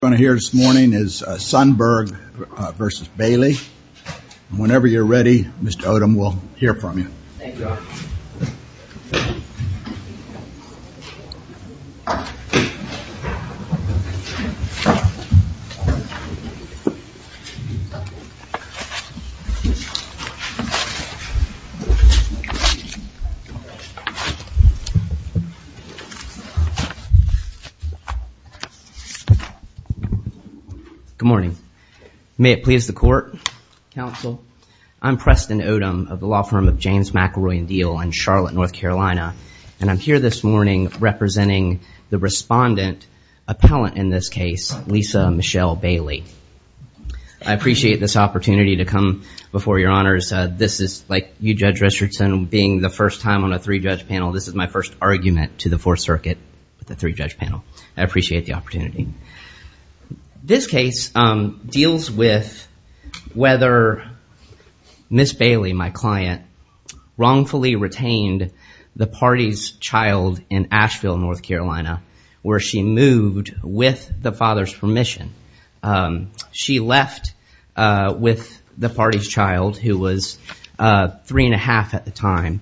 Whenever you are ready, Mr. Odom will hear from you. Good morning. May it please the court, counsel? I'm Preston Odom of the law firm of James McElroy & Diehl in Charlotte, North Carolina. And I'm here this morning representing the respondent, appellant in this case, Lisa Michelle Bailey. I appreciate this opportunity to come before your honors. This is like you, Judge Richardson, being the first time on a three-judge panel. This is my first argument to the Fourth Circuit with a three-judge panel. I appreciate the opportunity. This case deals with whether Ms. Bailey, my client, wrongfully retained the party's child in Asheville, North Carolina, where she moved with the father's permission. She left with the party's child, who was three and a half at the time,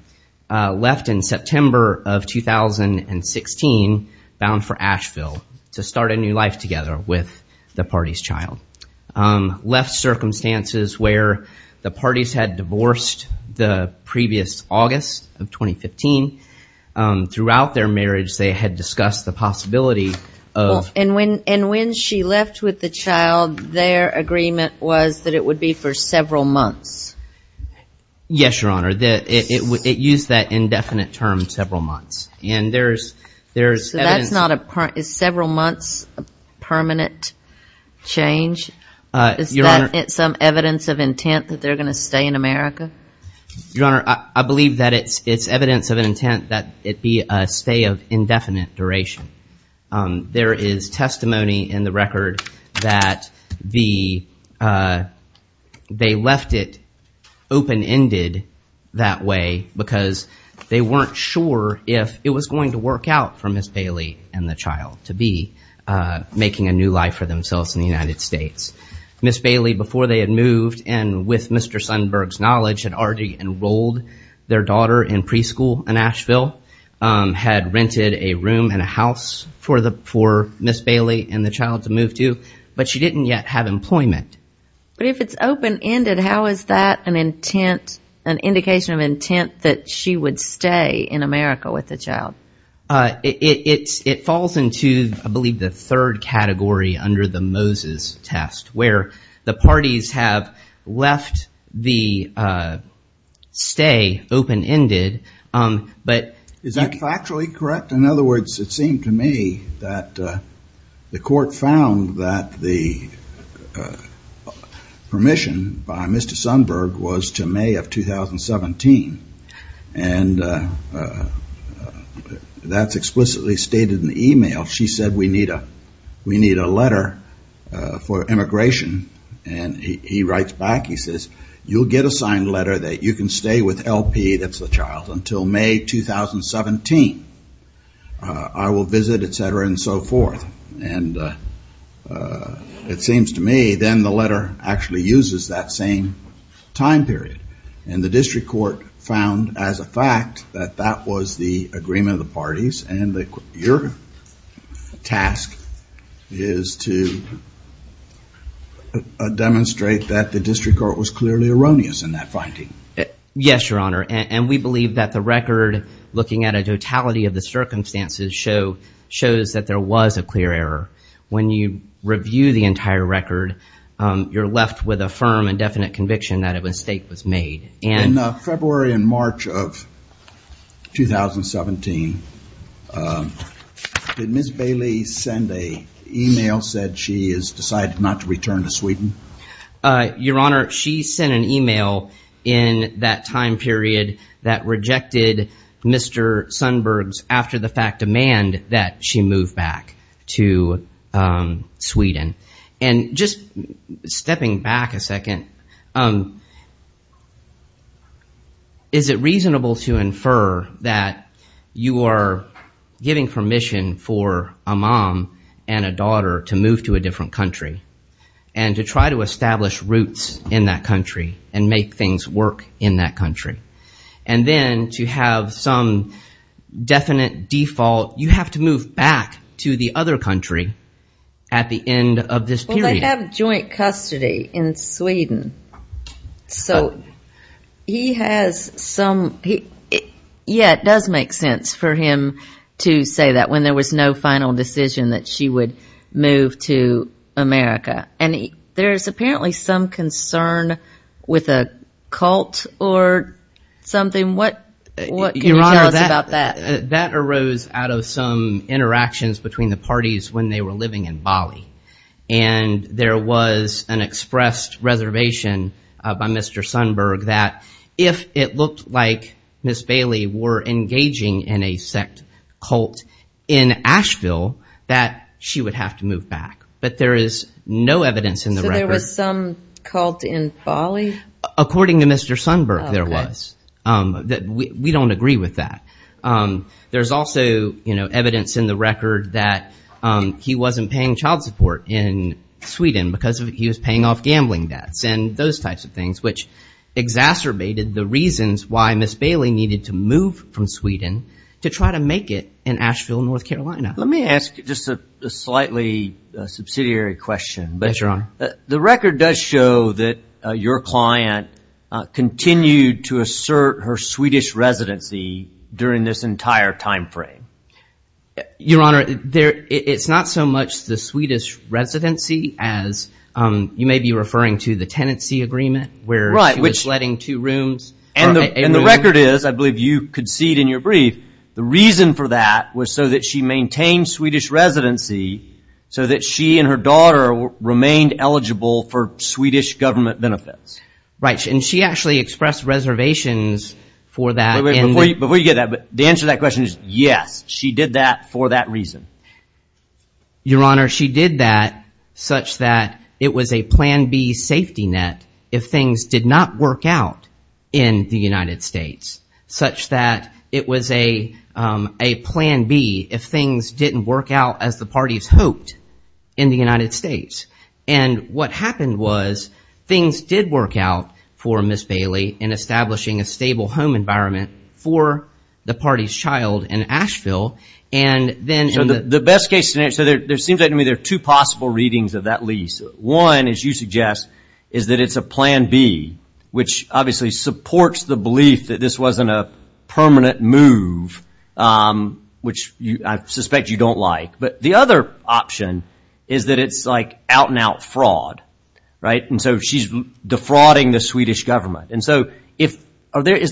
left in September of 2016 bound for Asheville to start a new life together with the party's child. Left circumstances where the parties had divorced the previous August of 2015. Throughout their marriage, they had discussed the possibility of... And when she left with the child, their agreement was that it would be for several months. Yes, Your Honor. It used that indefinite term, several months. And there's evidence... So that's not a... Is several months a permanent change? Is that some evidence of intent that they're going to stay in America? Your Honor, I believe that it's evidence of an intent that it be a stay of indefinite duration. There is testimony in the record that they left it open-ended that way because they weren't sure if it was going to work out for Ms. Bailey and the child to be making a new life for themselves in the United States. Ms. Bailey, before they had moved, and with Mr. Sundberg's knowledge, had rented a room and a house for Ms. Bailey and the child to move to, but she didn't yet have employment. But if it's open-ended, how is that an intent, an indication of intent that she would stay in America with the child? It falls into, I believe, the third category under the Moses test where the parties have left the stay open-ended, but... Is that factually correct? In other words, it seemed to me that the court found that the permission by Mr. Sundberg was to May of 2017, and that's explicitly stated in the email. She said, we need a letter for immigration, and he writes back. He says, you'll get a signed letter that you can stay with LP. That's the child until May 2017. I will visit, et cetera, and so forth. And it seems to me then the letter actually uses that same time period, and the district court found as a fact that that was the agreement of the parties, and your task is to demonstrate that the district court was clearly erroneous in that finding. Yes, Your Honor. And we believe that the record, looking at a totality of the circumstances, shows that there was a clear error. When you review the entire record, you're left with a firm and definite conviction that a mistake was made. In February and March of 2017, did Ms. Bailey send an email, said she has decided not to return to Sweden? Your Honor, she sent an email in that time period that rejected Mr. Sundberg's after-the-fact demand that she move back to Sweden. And just stepping back a second, is it reasonable to infer that you are giving permission for a mom and a daughter to move to a different country and to try to establish roots in that country and make things work in that country? And then to have some definite default, you have to move back to the other country at the end of this period. Well, they have joint custody in Sweden. So he has some, yeah, it does make sense for him to say that when there was no final decision that she would move to America. And there's apparently some concern with a cult or something. What can you tell us about that? Your Honor, that arose out of some interactions between the parties when they were living in Bali. And there was an expressed reservation by Mr. Sundberg that if it looked like Ms. Bailey were engaging in a sect cult in Asheville, that she would have to move back. But there is no evidence in the record. So there was some cult in Bali? According to Mr. Sundberg, there was. We don't agree with that. There's also evidence in the record that he wasn't paying child support in Sweden because he was paying off gambling debts and those types of things, which exacerbated the reasons why Ms. Bailey needed to move from Sweden to try to make it in Asheville, North Carolina. Let me ask just a slightly subsidiary question. Yes, Your Honor. The record does show that your client continued to assert her Swedish residency during this entire time frame. Your Honor, it's not so much the Swedish residency as you may be referring to the tenancy agreement where she was letting two rooms. And the record is, I believe you could see it in your brief, the reason for that was so that she maintained Swedish residency so that she and her daughter remained eligible for Swedish government benefits. Right, and she actually expressed reservations for that. Before you get that, the answer to that question is yes, she did that for that reason. Your Honor, she did that such that it was a plan B safety net if things did not work out in the United States, such that it was a plan B if things didn't work out as the parties hoped in the United States. And what happened was things did work out for Ms. Bailey in establishing a stable home environment for the party's child in Asheville. The best case scenario, so it seems to me there are two possible readings of that lease. One, as you suggest, is that it's a plan B, which obviously supports the belief that this wasn't a permanent move, which I suspect you don't like. But the other option is that it's like out-and-out fraud. Right, and so she's defrauding the Swedish government. And so is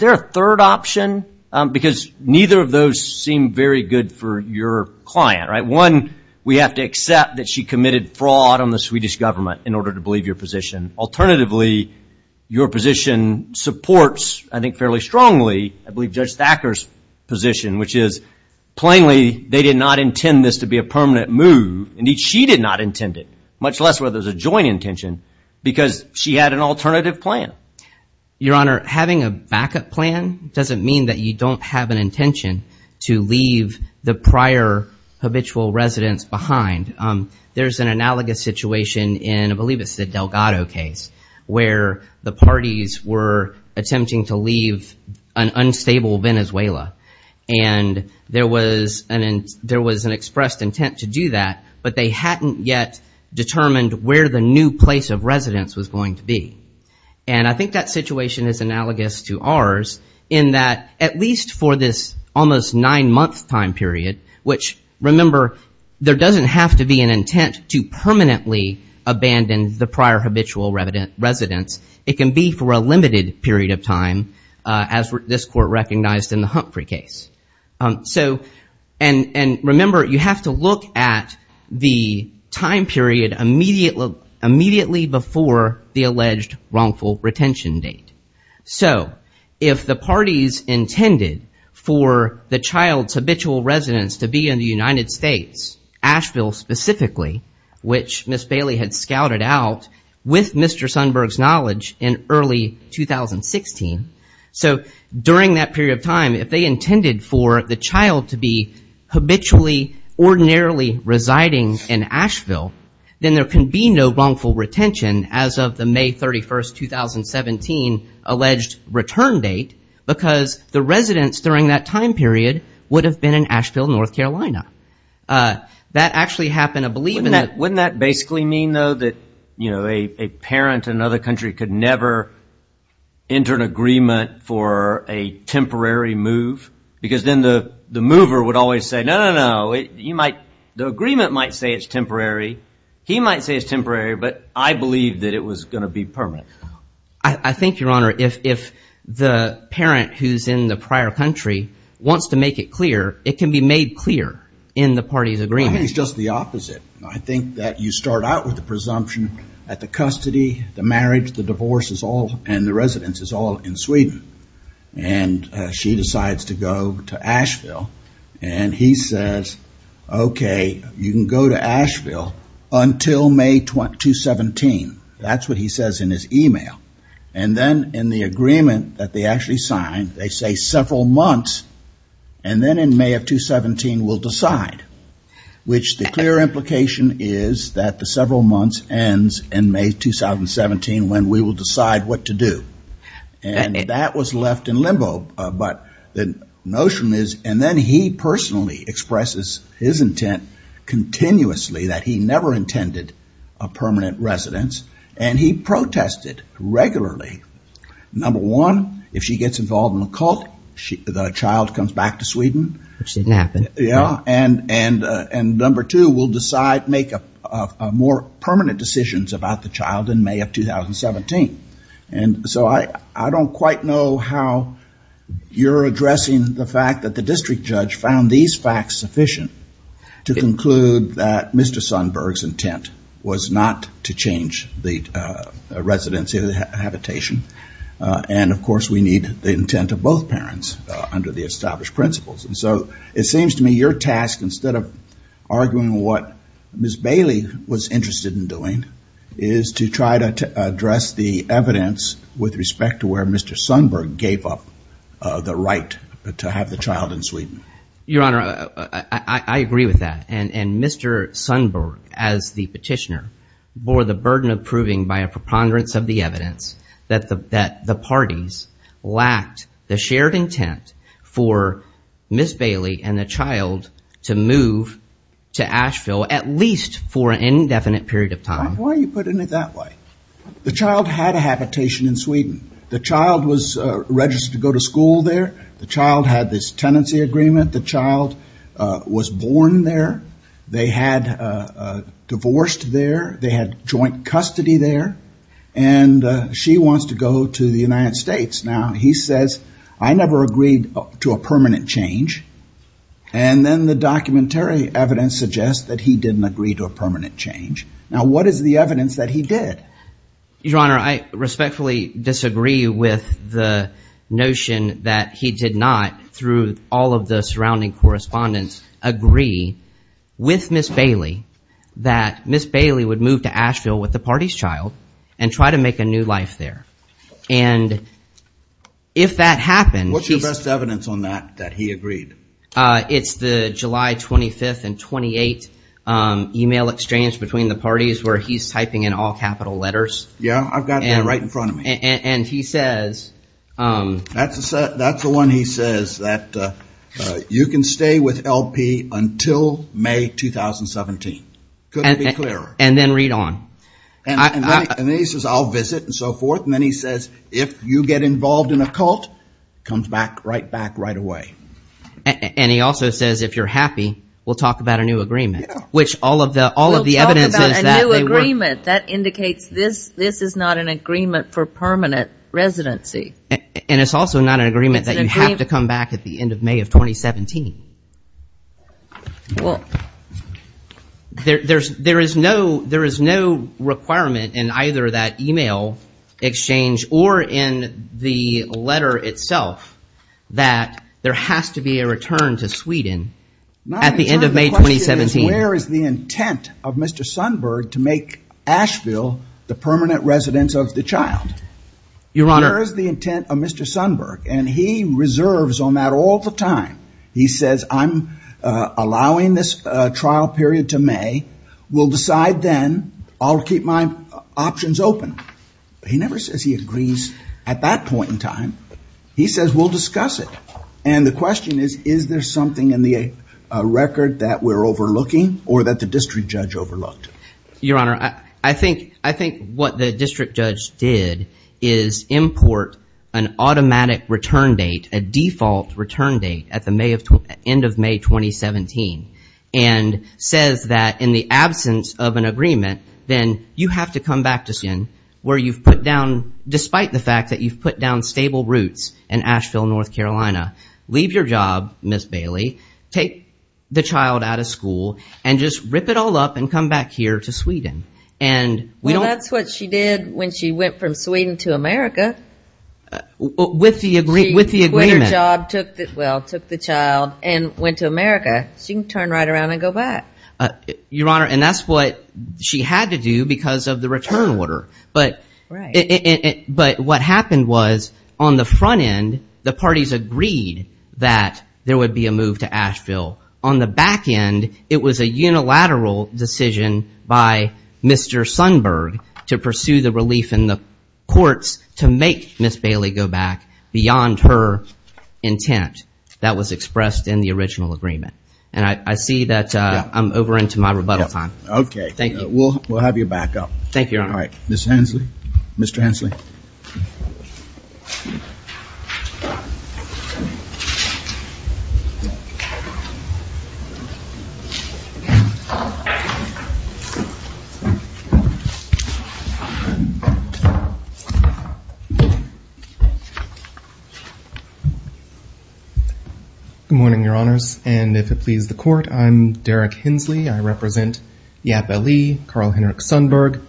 there a third option? Because neither of those seem very good for your client. One, we have to accept that she committed fraud on the Swedish government in order to believe your position. Alternatively, your position supports, I think fairly strongly, I believe Judge Thacker's position, which is plainly they did not intend this to be a permanent move. Indeed, she did not intend it, much less whether it was a joint intention, because she had an alternative plan. Your Honor, having a backup plan doesn't mean that you don't have an intention to leave the prior habitual residence behind. There's an analogous situation in, I believe it's the Delgado case, where the parties were attempting to leave an unstable Venezuela. And there was an expressed intent to do that, but they hadn't yet determined where the new place of residence was going to be. And I think that situation is analogous to ours in that, at least for this almost nine-month time period, which, remember, there doesn't have to be an intent to permanently abandon the prior habitual residence. It can be for a limited period of time, as this Court recognized in the Humphrey case. And remember, you have to look at the time period immediately before the alleged wrongful retention date. So if the parties intended for the child's habitual residence to be in the United States, Asheville specifically, which Ms. Bailey had scouted out, with Mr. Sundberg's knowledge in early 2016, so during that period of time, if they intended for the child to be habitually, ordinarily residing in Asheville, then there can be no wrongful retention as of the May 31, 2017, alleged return date, because the residence during that time period would have been in Asheville, North Carolina. That actually happened, I believe. Wouldn't that basically mean, though, that a parent in another country could never enter an agreement for a temporary move? Because then the mover would always say, no, no, no. The agreement might say it's temporary. He might say it's temporary, but I believe that it was going to be permanent. I think, Your Honor, if the parent who's in the prior country wants to make it clear, it can be made clear in the party's agreement. I think it's just the opposite. I think that you start out with the presumption that the custody, the marriage, the divorce, and the residence is all in Sweden. And she decides to go to Asheville, and he says, okay, you can go to Asheville until May 2017. That's what he says in his email. And then in the agreement that they actually signed, they say several months, and then in May of 2017 we'll decide, which the clear implication is that the several months ends in May 2017 when we will decide what to do. And that was left in limbo, but the notion is, and then he personally expresses his intent continuously that he never intended a permanent residence, and he protested regularly. Number one, if she gets involved in a cult, the child comes back to Sweden. Which didn't happen. Yeah, and number two, we'll decide, make more permanent decisions about the child in May of 2017. And so I don't quite know how you're addressing the fact that the district judge found these facts sufficient to conclude that Mr. Sundberg's intent was not to change the residency or the habitation. And, of course, we need the intent of both parents under the established principles. And so it seems to me your task, instead of arguing what Ms. Bailey was interested in doing, is to try to address the evidence with respect to where Mr. Sundberg gave up the right to have the child in Sweden. Your Honor, I agree with that. And Mr. Sundberg, as the petitioner, bore the burden of proving by a preponderance of the evidence that the parties lacked the shared intent for Ms. Bailey and the child to move to Asheville, at least for an indefinite period of time. Why are you putting it that way? The child had a habitation in Sweden. The child was registered to go to school there. The child had this tenancy agreement. The child was born there. They had divorced there. They had joint custody there. And she wants to go to the United States. Now, he says, I never agreed to a permanent change. And then the documentary evidence suggests that he didn't agree to a permanent change. Now, what is the evidence that he did? Your Honor, I respectfully disagree with the notion that he did not, through all of the surrounding correspondence, agree with Ms. Bailey that Ms. Bailey would move to Asheville with the party's child and try to make a new life there. And if that happened, he's- What's your best evidence on that, that he agreed? It's the July 25th and 28th email exchange between the parties where he's typing in all capital letters. Yeah, I've got that right in front of me. And he says- That's the one he says, that you can stay with LP until May 2017. Couldn't be clearer. And then read on. And then he says, I'll visit and so forth. And then he says, if you get involved in a cult, comes right back right away. And he also says, if you're happy, we'll talk about a new agreement. Which all of the evidence is that they were- We'll talk about a new agreement. That indicates this is not an agreement for permanent residency. And it's also not an agreement that you have to come back at the end of May of 2017. There is no requirement in either that email exchange or in the letter itself that there has to be a return to Sweden at the end of May 2017. The question is, where is the intent of Mr. Sundberg to make Asheville the permanent residence of the child? Where is the intent of Mr. Sundberg? And he reserves on that all the time. He says, I'm allowing this trial period to May. We'll decide then. I'll keep my options open. He never says he agrees at that point in time. He says, we'll discuss it. And the question is, is there something in the record that we're overlooking or that the district judge overlooked? Your Honor, I think what the district judge did is import an automatic return date, a default return date at the end of May 2017. And says that in the absence of an agreement, then you have to come back to Sweden where you've put down, despite the fact that you've put down stable roots in Asheville, North Carolina. Leave your job, Ms. Bailey. Take the child out of school and just rip it all up and come back here to Sweden. Well, that's what she did when she went from Sweden to America. With the agreement. She quit her job, took the child, and went to America. She can turn right around and go back. Your Honor, and that's what she had to do because of the return order. But what happened was, on the front end, the parties agreed that there would be a move to Asheville. On the back end, it was a unilateral decision by Mr. Sundberg to pursue the relief in the courts to make Ms. Bailey go back beyond her intent. That was expressed in the original agreement. And I see that I'm over into my rebuttal time. Okay. We'll have you back up. Thank you, Your Honor. All right. Ms. Hensley. Mr. Hensley. Good morning, Your Honors. And if it pleases the Court, I'm Derek Hensley. I represent Yap Ali, Carl Henrik Sundberg,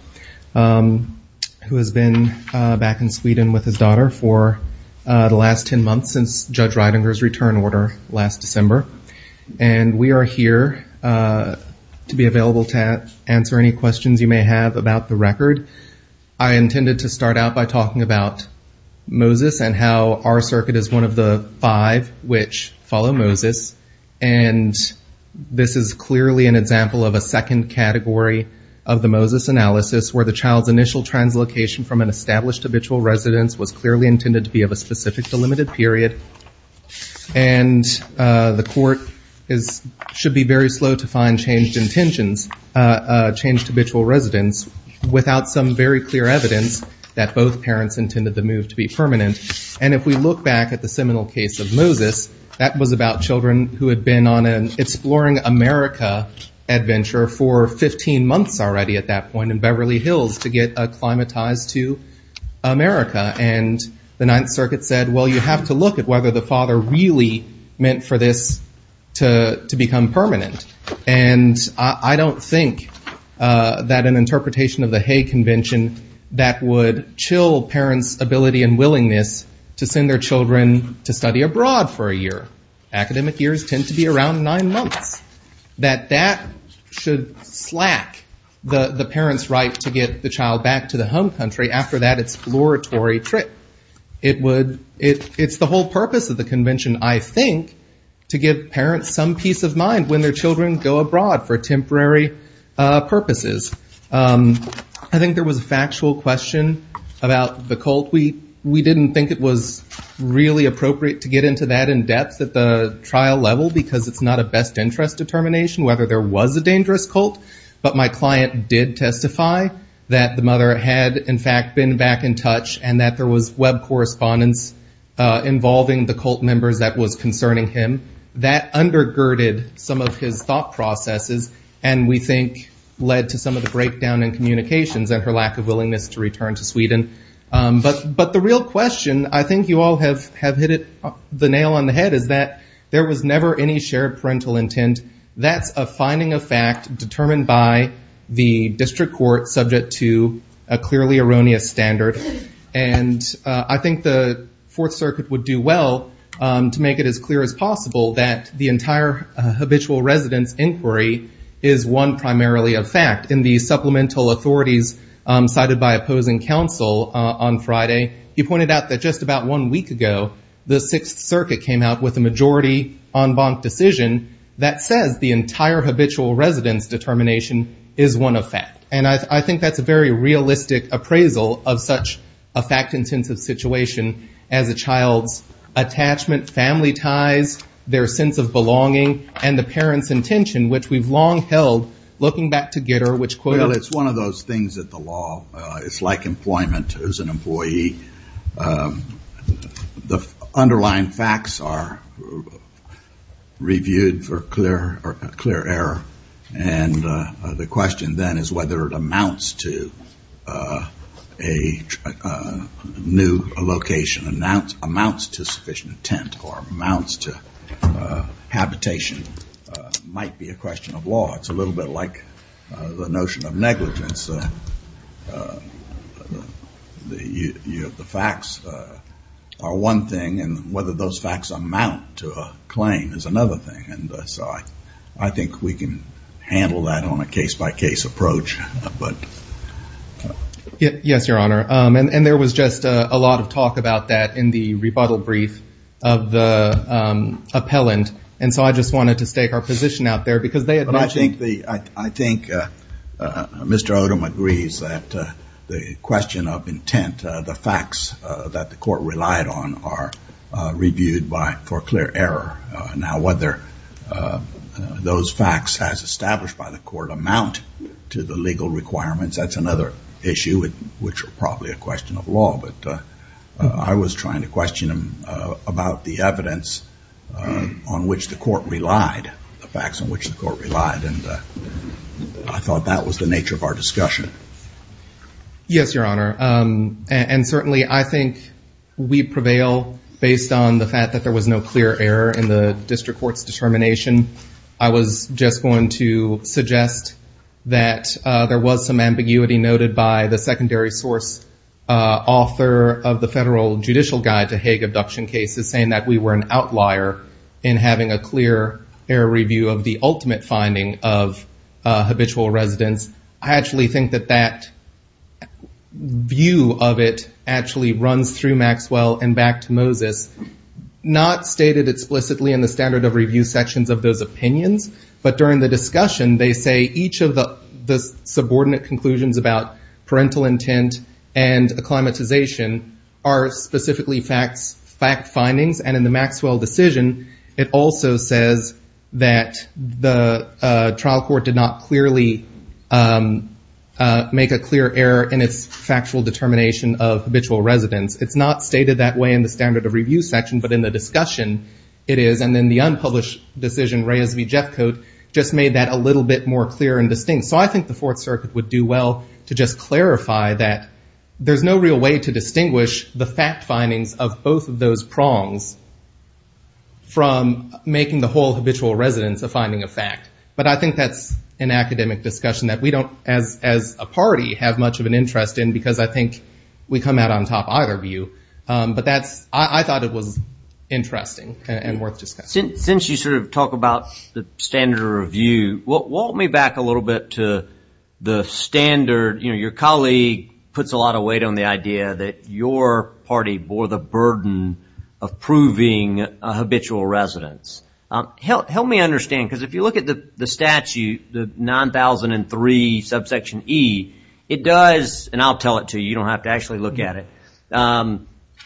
who has been back in Sweden with his daughter for the last 10 months since Judge Reidinger's return order last December. And we are here to be available to answer any questions you may have about the record. I intended to start out by talking about Moses and how our circuit is one of the five which follow Moses. And this is clearly an example of a second category of the Moses analysis where the child's initial translocation from an established habitual residence was clearly intended to be of a specific delimited period. And the Court should be very slow to find changed intentions, changed habitual residence, without some very clear evidence that both parents intended the move to be permanent. And if we look back at the seminal case of Moses, that was about children who had been on an Exploring America adventure for 15 months already at that point in Beverly Hills to get acclimatized to America. And the Ninth Circuit said, well, you have to look at whether the father really meant for this to become permanent. And I don't think that an interpretation of the Hay Convention that would chill parents' ability and willingness to send their children to study abroad for a year. Academic years tend to be around nine months. That that should slack the parents' right to get the child back to the home country after that exploratory trip. It's the whole purpose of the convention, I think, to give parents some peace of mind when their children go abroad for temporary purposes. I think there was a factual question about the cult. We didn't think it was really appropriate to get into that in depth at the trial level, because it's not a best interest determination whether there was a dangerous cult. But my client did testify that the mother had, in fact, been back in touch, and that there was web correspondence involving the cult members that was concerning him. That undergirded some of his thought processes and, we think, led to some of the breakdown in communications and her lack of willingness to return to Sweden. But the real question, I think you all have hit the nail on the head, is that there was never any shared parental intent. That's a finding of fact determined by the district court, subject to a clearly erroneous standard. I think the Fourth Circuit would do well to make it as clear as possible that the entire habitual residence inquiry is one primarily of fact. In the supplemental authorities cited by opposing counsel on Friday, he pointed out that just about one week ago, the Sixth Circuit came out with a majority en banc decision that says the entire habitual residence determination is one of fact. And I think that's a very realistic appraisal of such a fact-intensive situation as a child's attachment, family ties, their sense of belonging, and the parents' intention, which we've long held, looking back to Gitter, which quoted Well, it's one of those things that the law, it's like employment as an employee. The underlying facts are reviewed for clear error. And the question then is whether it amounts to a new location, amounts to sufficient intent, or amounts to habitation, might be a question of law. It's a little bit like the notion of negligence. The facts are one thing, and whether those facts amount to a claim is another thing. And so I think we can handle that on a case-by-case approach. Yes, Your Honor. And there was just a lot of talk about that in the rebuttal brief of the appellant. And so I just wanted to stake our position out there because they had mentioned But I think Mr. Odom agrees that the question of intent, the facts that the court relied on, are reviewed for clear error. Now whether those facts, as established by the court, amount to the legal requirements, that's another issue, which are probably a question of law. But I was trying to question him about the evidence on which the court relied, the facts on which the court relied, and I thought that was the nature of our discussion. Yes, Your Honor. And certainly I think we prevail based on the fact that there was no clear error in the district court's determination. I was just going to suggest that there was some ambiguity noted by the secondary source author of the Federal Judicial Guide to Hague Abduction Cases saying that we were an outlier in having a clear error review of the ultimate finding of habitual residence. I actually think that that view of it actually runs through Maxwell and back to Moses. It's not stated explicitly in the standard of review sections of those opinions, but during the discussion they say each of the subordinate conclusions about parental intent and acclimatization are specifically fact findings and in the Maxwell decision it also says that the trial court did not clearly make a clear error in its factual determination of habitual residence. It's not stated that way in the standard of review section, but in the discussion it is, and then the unpublished decision Reyes v. Jeffcoat just made that a little bit more clear and distinct. So I think the Fourth Circuit would do well to just clarify that there's no real way to distinguish the fact findings of both of those prongs from making the whole habitual residence a finding of fact. But I think that's an academic discussion that we don't, as a party, have much of an interest in because I think we come out on top either view. But I thought it was interesting and worth discussing. Since you sort of talk about the standard of review, walk me back a little bit to the standard. You know, your colleague puts a lot of weight on the idea that your party bore the burden of proving a habitual residence. Help me understand, because if you look at the statute, the 9003 subsection E, it does, and I'll tell it to you, you don't have to actually look at it,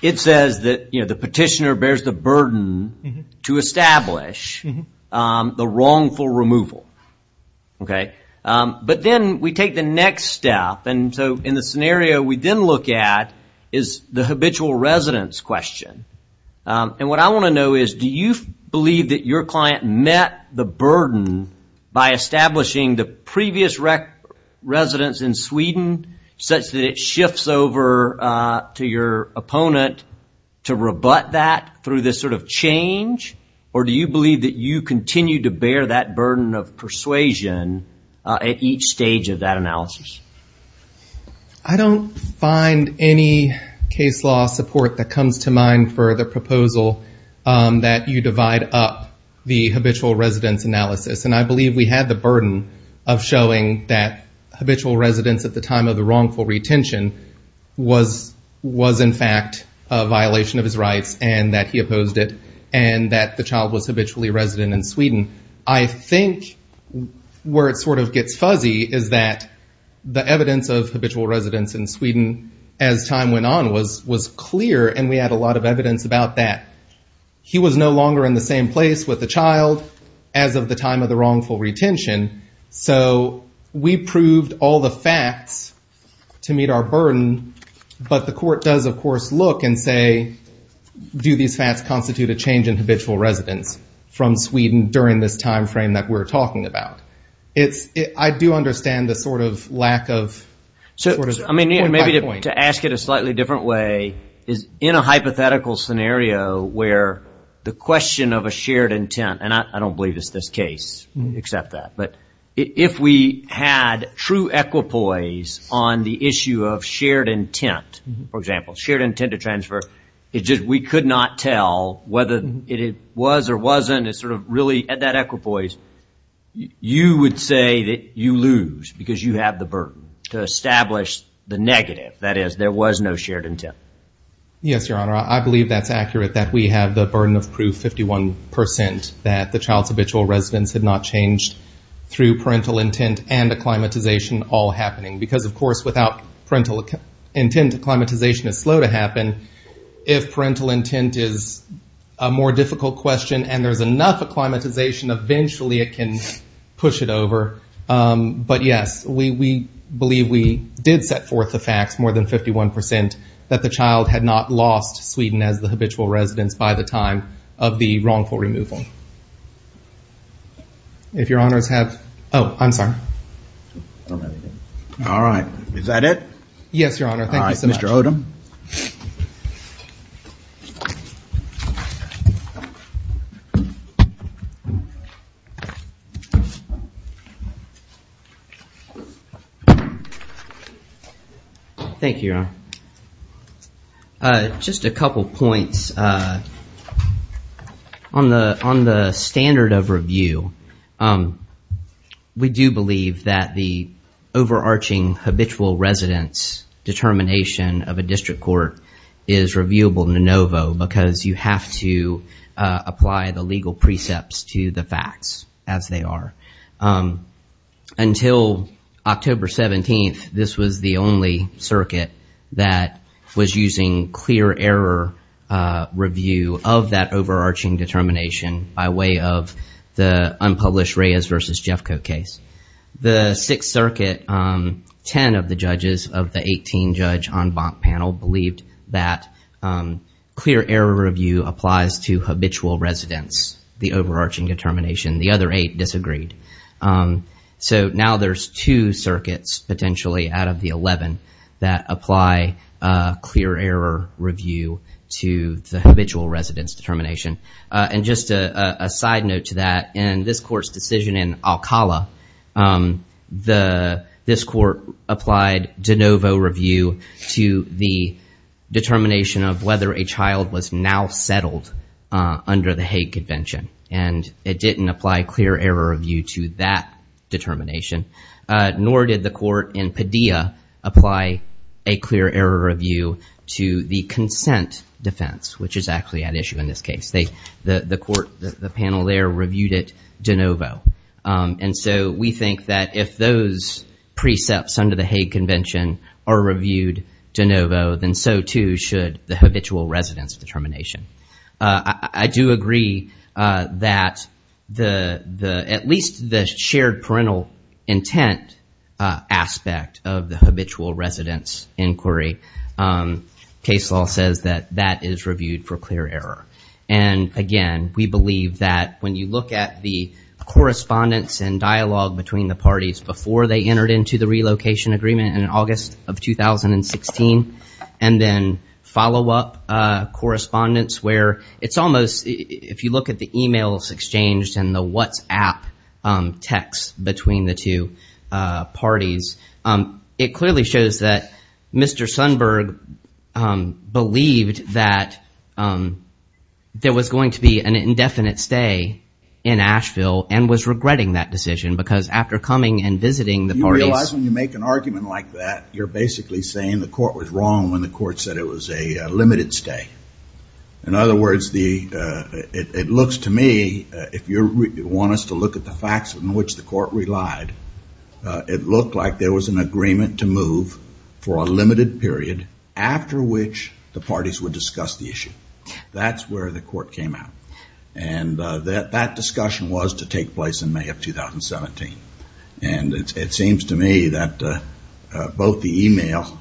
it says that the petitioner bears the burden to establish the wrongful removal. But then we take the next step, and so in the scenario we then look at is the habitual residence question. And what I want to know is, do you believe that your client met the burden by establishing the previous residence in Sweden such that it shifts over to your opponent to rebut that through this sort of change? Or do you believe that you continue to bear that burden of persuasion at each stage of that analysis? I don't find any case law support that comes to mind for the proposal that you divide up the habitual residence analysis. And I believe we had the burden of showing that habitual residence at the time of the wrongful retention was in fact a violation of his rights and that he opposed it, and that the child was habitually resident in Sweden. I think where it sort of gets fuzzy is that the evidence of habitual residence in Sweden as time went on was clear, and we had a lot of evidence about that. He was no longer in the same place with the child as of the time of the wrongful retention, so we proved all the facts to meet our burden, but the court does of course look and say, do these facts constitute a change in habitual residence from Sweden during this time frame that we're talking about? I do understand the sort of lack of point by point. Maybe to ask it a slightly different way is in a hypothetical scenario where the question of a shared intent, and I don't believe it's this case except that, but if we had true equipoise on the issue of shared intent, for example, shared intent to transfer, we could not tell whether it was or wasn't a sort of really, at that equipoise, you would say that you lose because you have the burden to establish the negative, that is, there was no shared intent. Yes, Your Honor, I believe that's accurate that we have the burden of proof, 51%, that the child's habitual residence had not changed through parental intent and acclimatization all happening, because of course without parental intent, acclimatization is slow to happen. If parental intent is a more difficult question and there's enough acclimatization, eventually it can push it over, but yes, we believe we did set forth the facts, more than 51%, that the child had not lost Sweden as the habitual residence by the time of the wrongful removal. If Your Honors have, oh, I'm sorry. All right, is that it? Yes, Your Honor, thank you so much. Thank you, Your Honor. Just a couple points. On the standard of review, we do believe that the overarching habitual residence determination of a district court is reviewable in anovo, because you have to apply the legal precepts to the facts as they are. Until October 17th, this was the only circuit that was using clear error review of that overarching determination by way of the unpublished Reyes v. Jeffco case. The Sixth Circuit, ten of the judges of the 18-judge en banc panel believed that clear error review applies to habitual residence, the overarching determination. The other eight disagreed. So now there's two circuits potentially out of the 11 that apply clear error review to the habitual residence determination. And just a side note to that, in this court's decision in Alcala, this court applied de novo review to the determination of whether a child was now settled under the Hague Convention. And it didn't apply clear error review to that determination, nor did the court in Padilla apply a clear error review to the consent defense, which is actually at issue in this case. The panel there reviewed it de novo. And so we think that if those precepts under the Hague Convention are reviewed de novo, then so too should the habitual residence determination. I do agree that at least the shared parental intent aspect of the habitual residence inquiry, case law says that that is reviewed for clear error. And again, we believe that when you look at the correspondence and dialogue between the parties before they entered into the relocation agreement in August of 2016, and then follow-up correspondence where it's almost, if you look at the emails exchanged and the WhatsApp texts between the two parties, it clearly shows that Mr. Sundberg believed that there was going to be an indefinite stay in Asheville and was regretting that decision because after coming and visiting the parties... You realize when you make an argument like that, you're basically saying the court was wrong when the court said it was a limited stay. In other words, it looks to me, if you want us to look at the facts in which the court relied, it looked like there was an agreement to move for a limited period after which the parties would discuss the issue. That's where the court came out. And that discussion was to take place in May of 2017. And it seems to me that both the email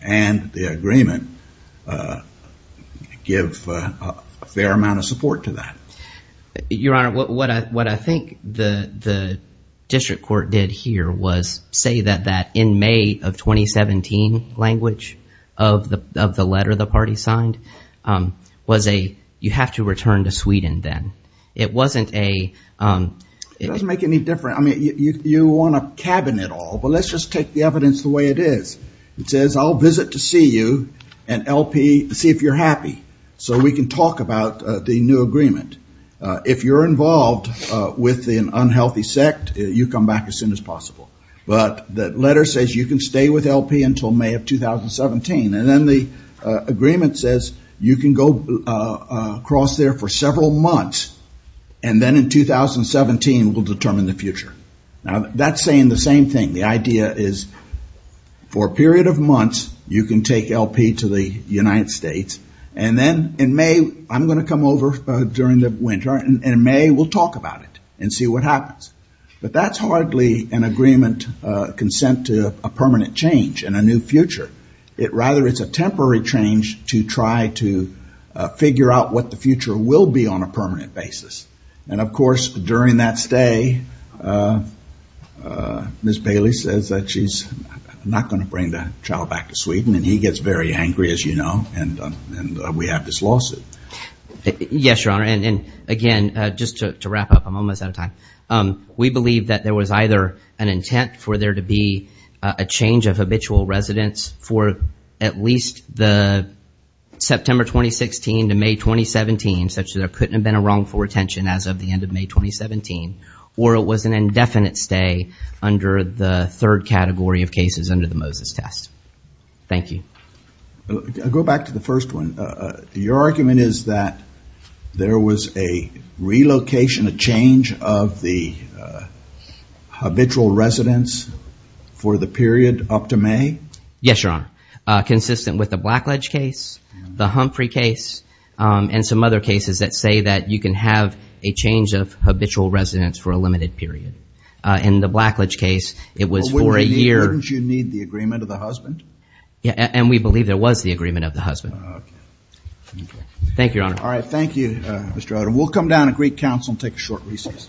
and the agreement give a fair amount of support to that. Your Honor, what I think the district court did here was say that in May of 2017 language of the letter the party signed was a, you have to return to Sweden then. It wasn't a... It doesn't make any difference. You want to cabin it all, but let's just take the evidence the way it is. It says, I'll visit to see you and LP, see if you're happy. So we can talk about the new agreement. If you're involved with an unhealthy sect, you come back as soon as possible. But the letter says you can stay with LP until May of 2017. And then the agreement says you can go across there for several months and then in 2017 we'll determine the future. Now that's saying the same thing. The idea is for a period of months you can take LP to the United States and then in May I'm going to come over during the winter and in May we'll talk about it and see what happens. But that's hardly an agreement consent to a permanent change and a new future. Rather it's a temporary change to try to figure out what the future will be on a permanent basis. And of course during that stay Ms. Bailey says that she's not going to bring the child back to Sweden and he gets very angry, as you know, and we have this lawsuit. Yes, Your Honor. And again, just to wrap up, I'm almost out of time. We believe that there was either an intent for there to be a change of habitual residence for at least the September 2016 to May 2017 such that there couldn't have been a wrongful retention as of the end of May 2017 or it was an indefinite stay under the third category of cases under the Moses test. Thank you. I'll go back to the first one. Your argument is that there was a relocation, a change of the habitual residence for the period up to May? Yes, Your Honor. Consistent with the Blackledge case, the Humphrey case, and some other cases that say that you can have a change of habitual residence for a limited period. In the Blackledge case it was for a year. Wouldn't you need the agreement of the husband? Yeah, and we believe there was the agreement of the husband. Thank you, Your Honor. All right, thank you, Mr. Odom. We'll come down to Greek Council and take a short recess.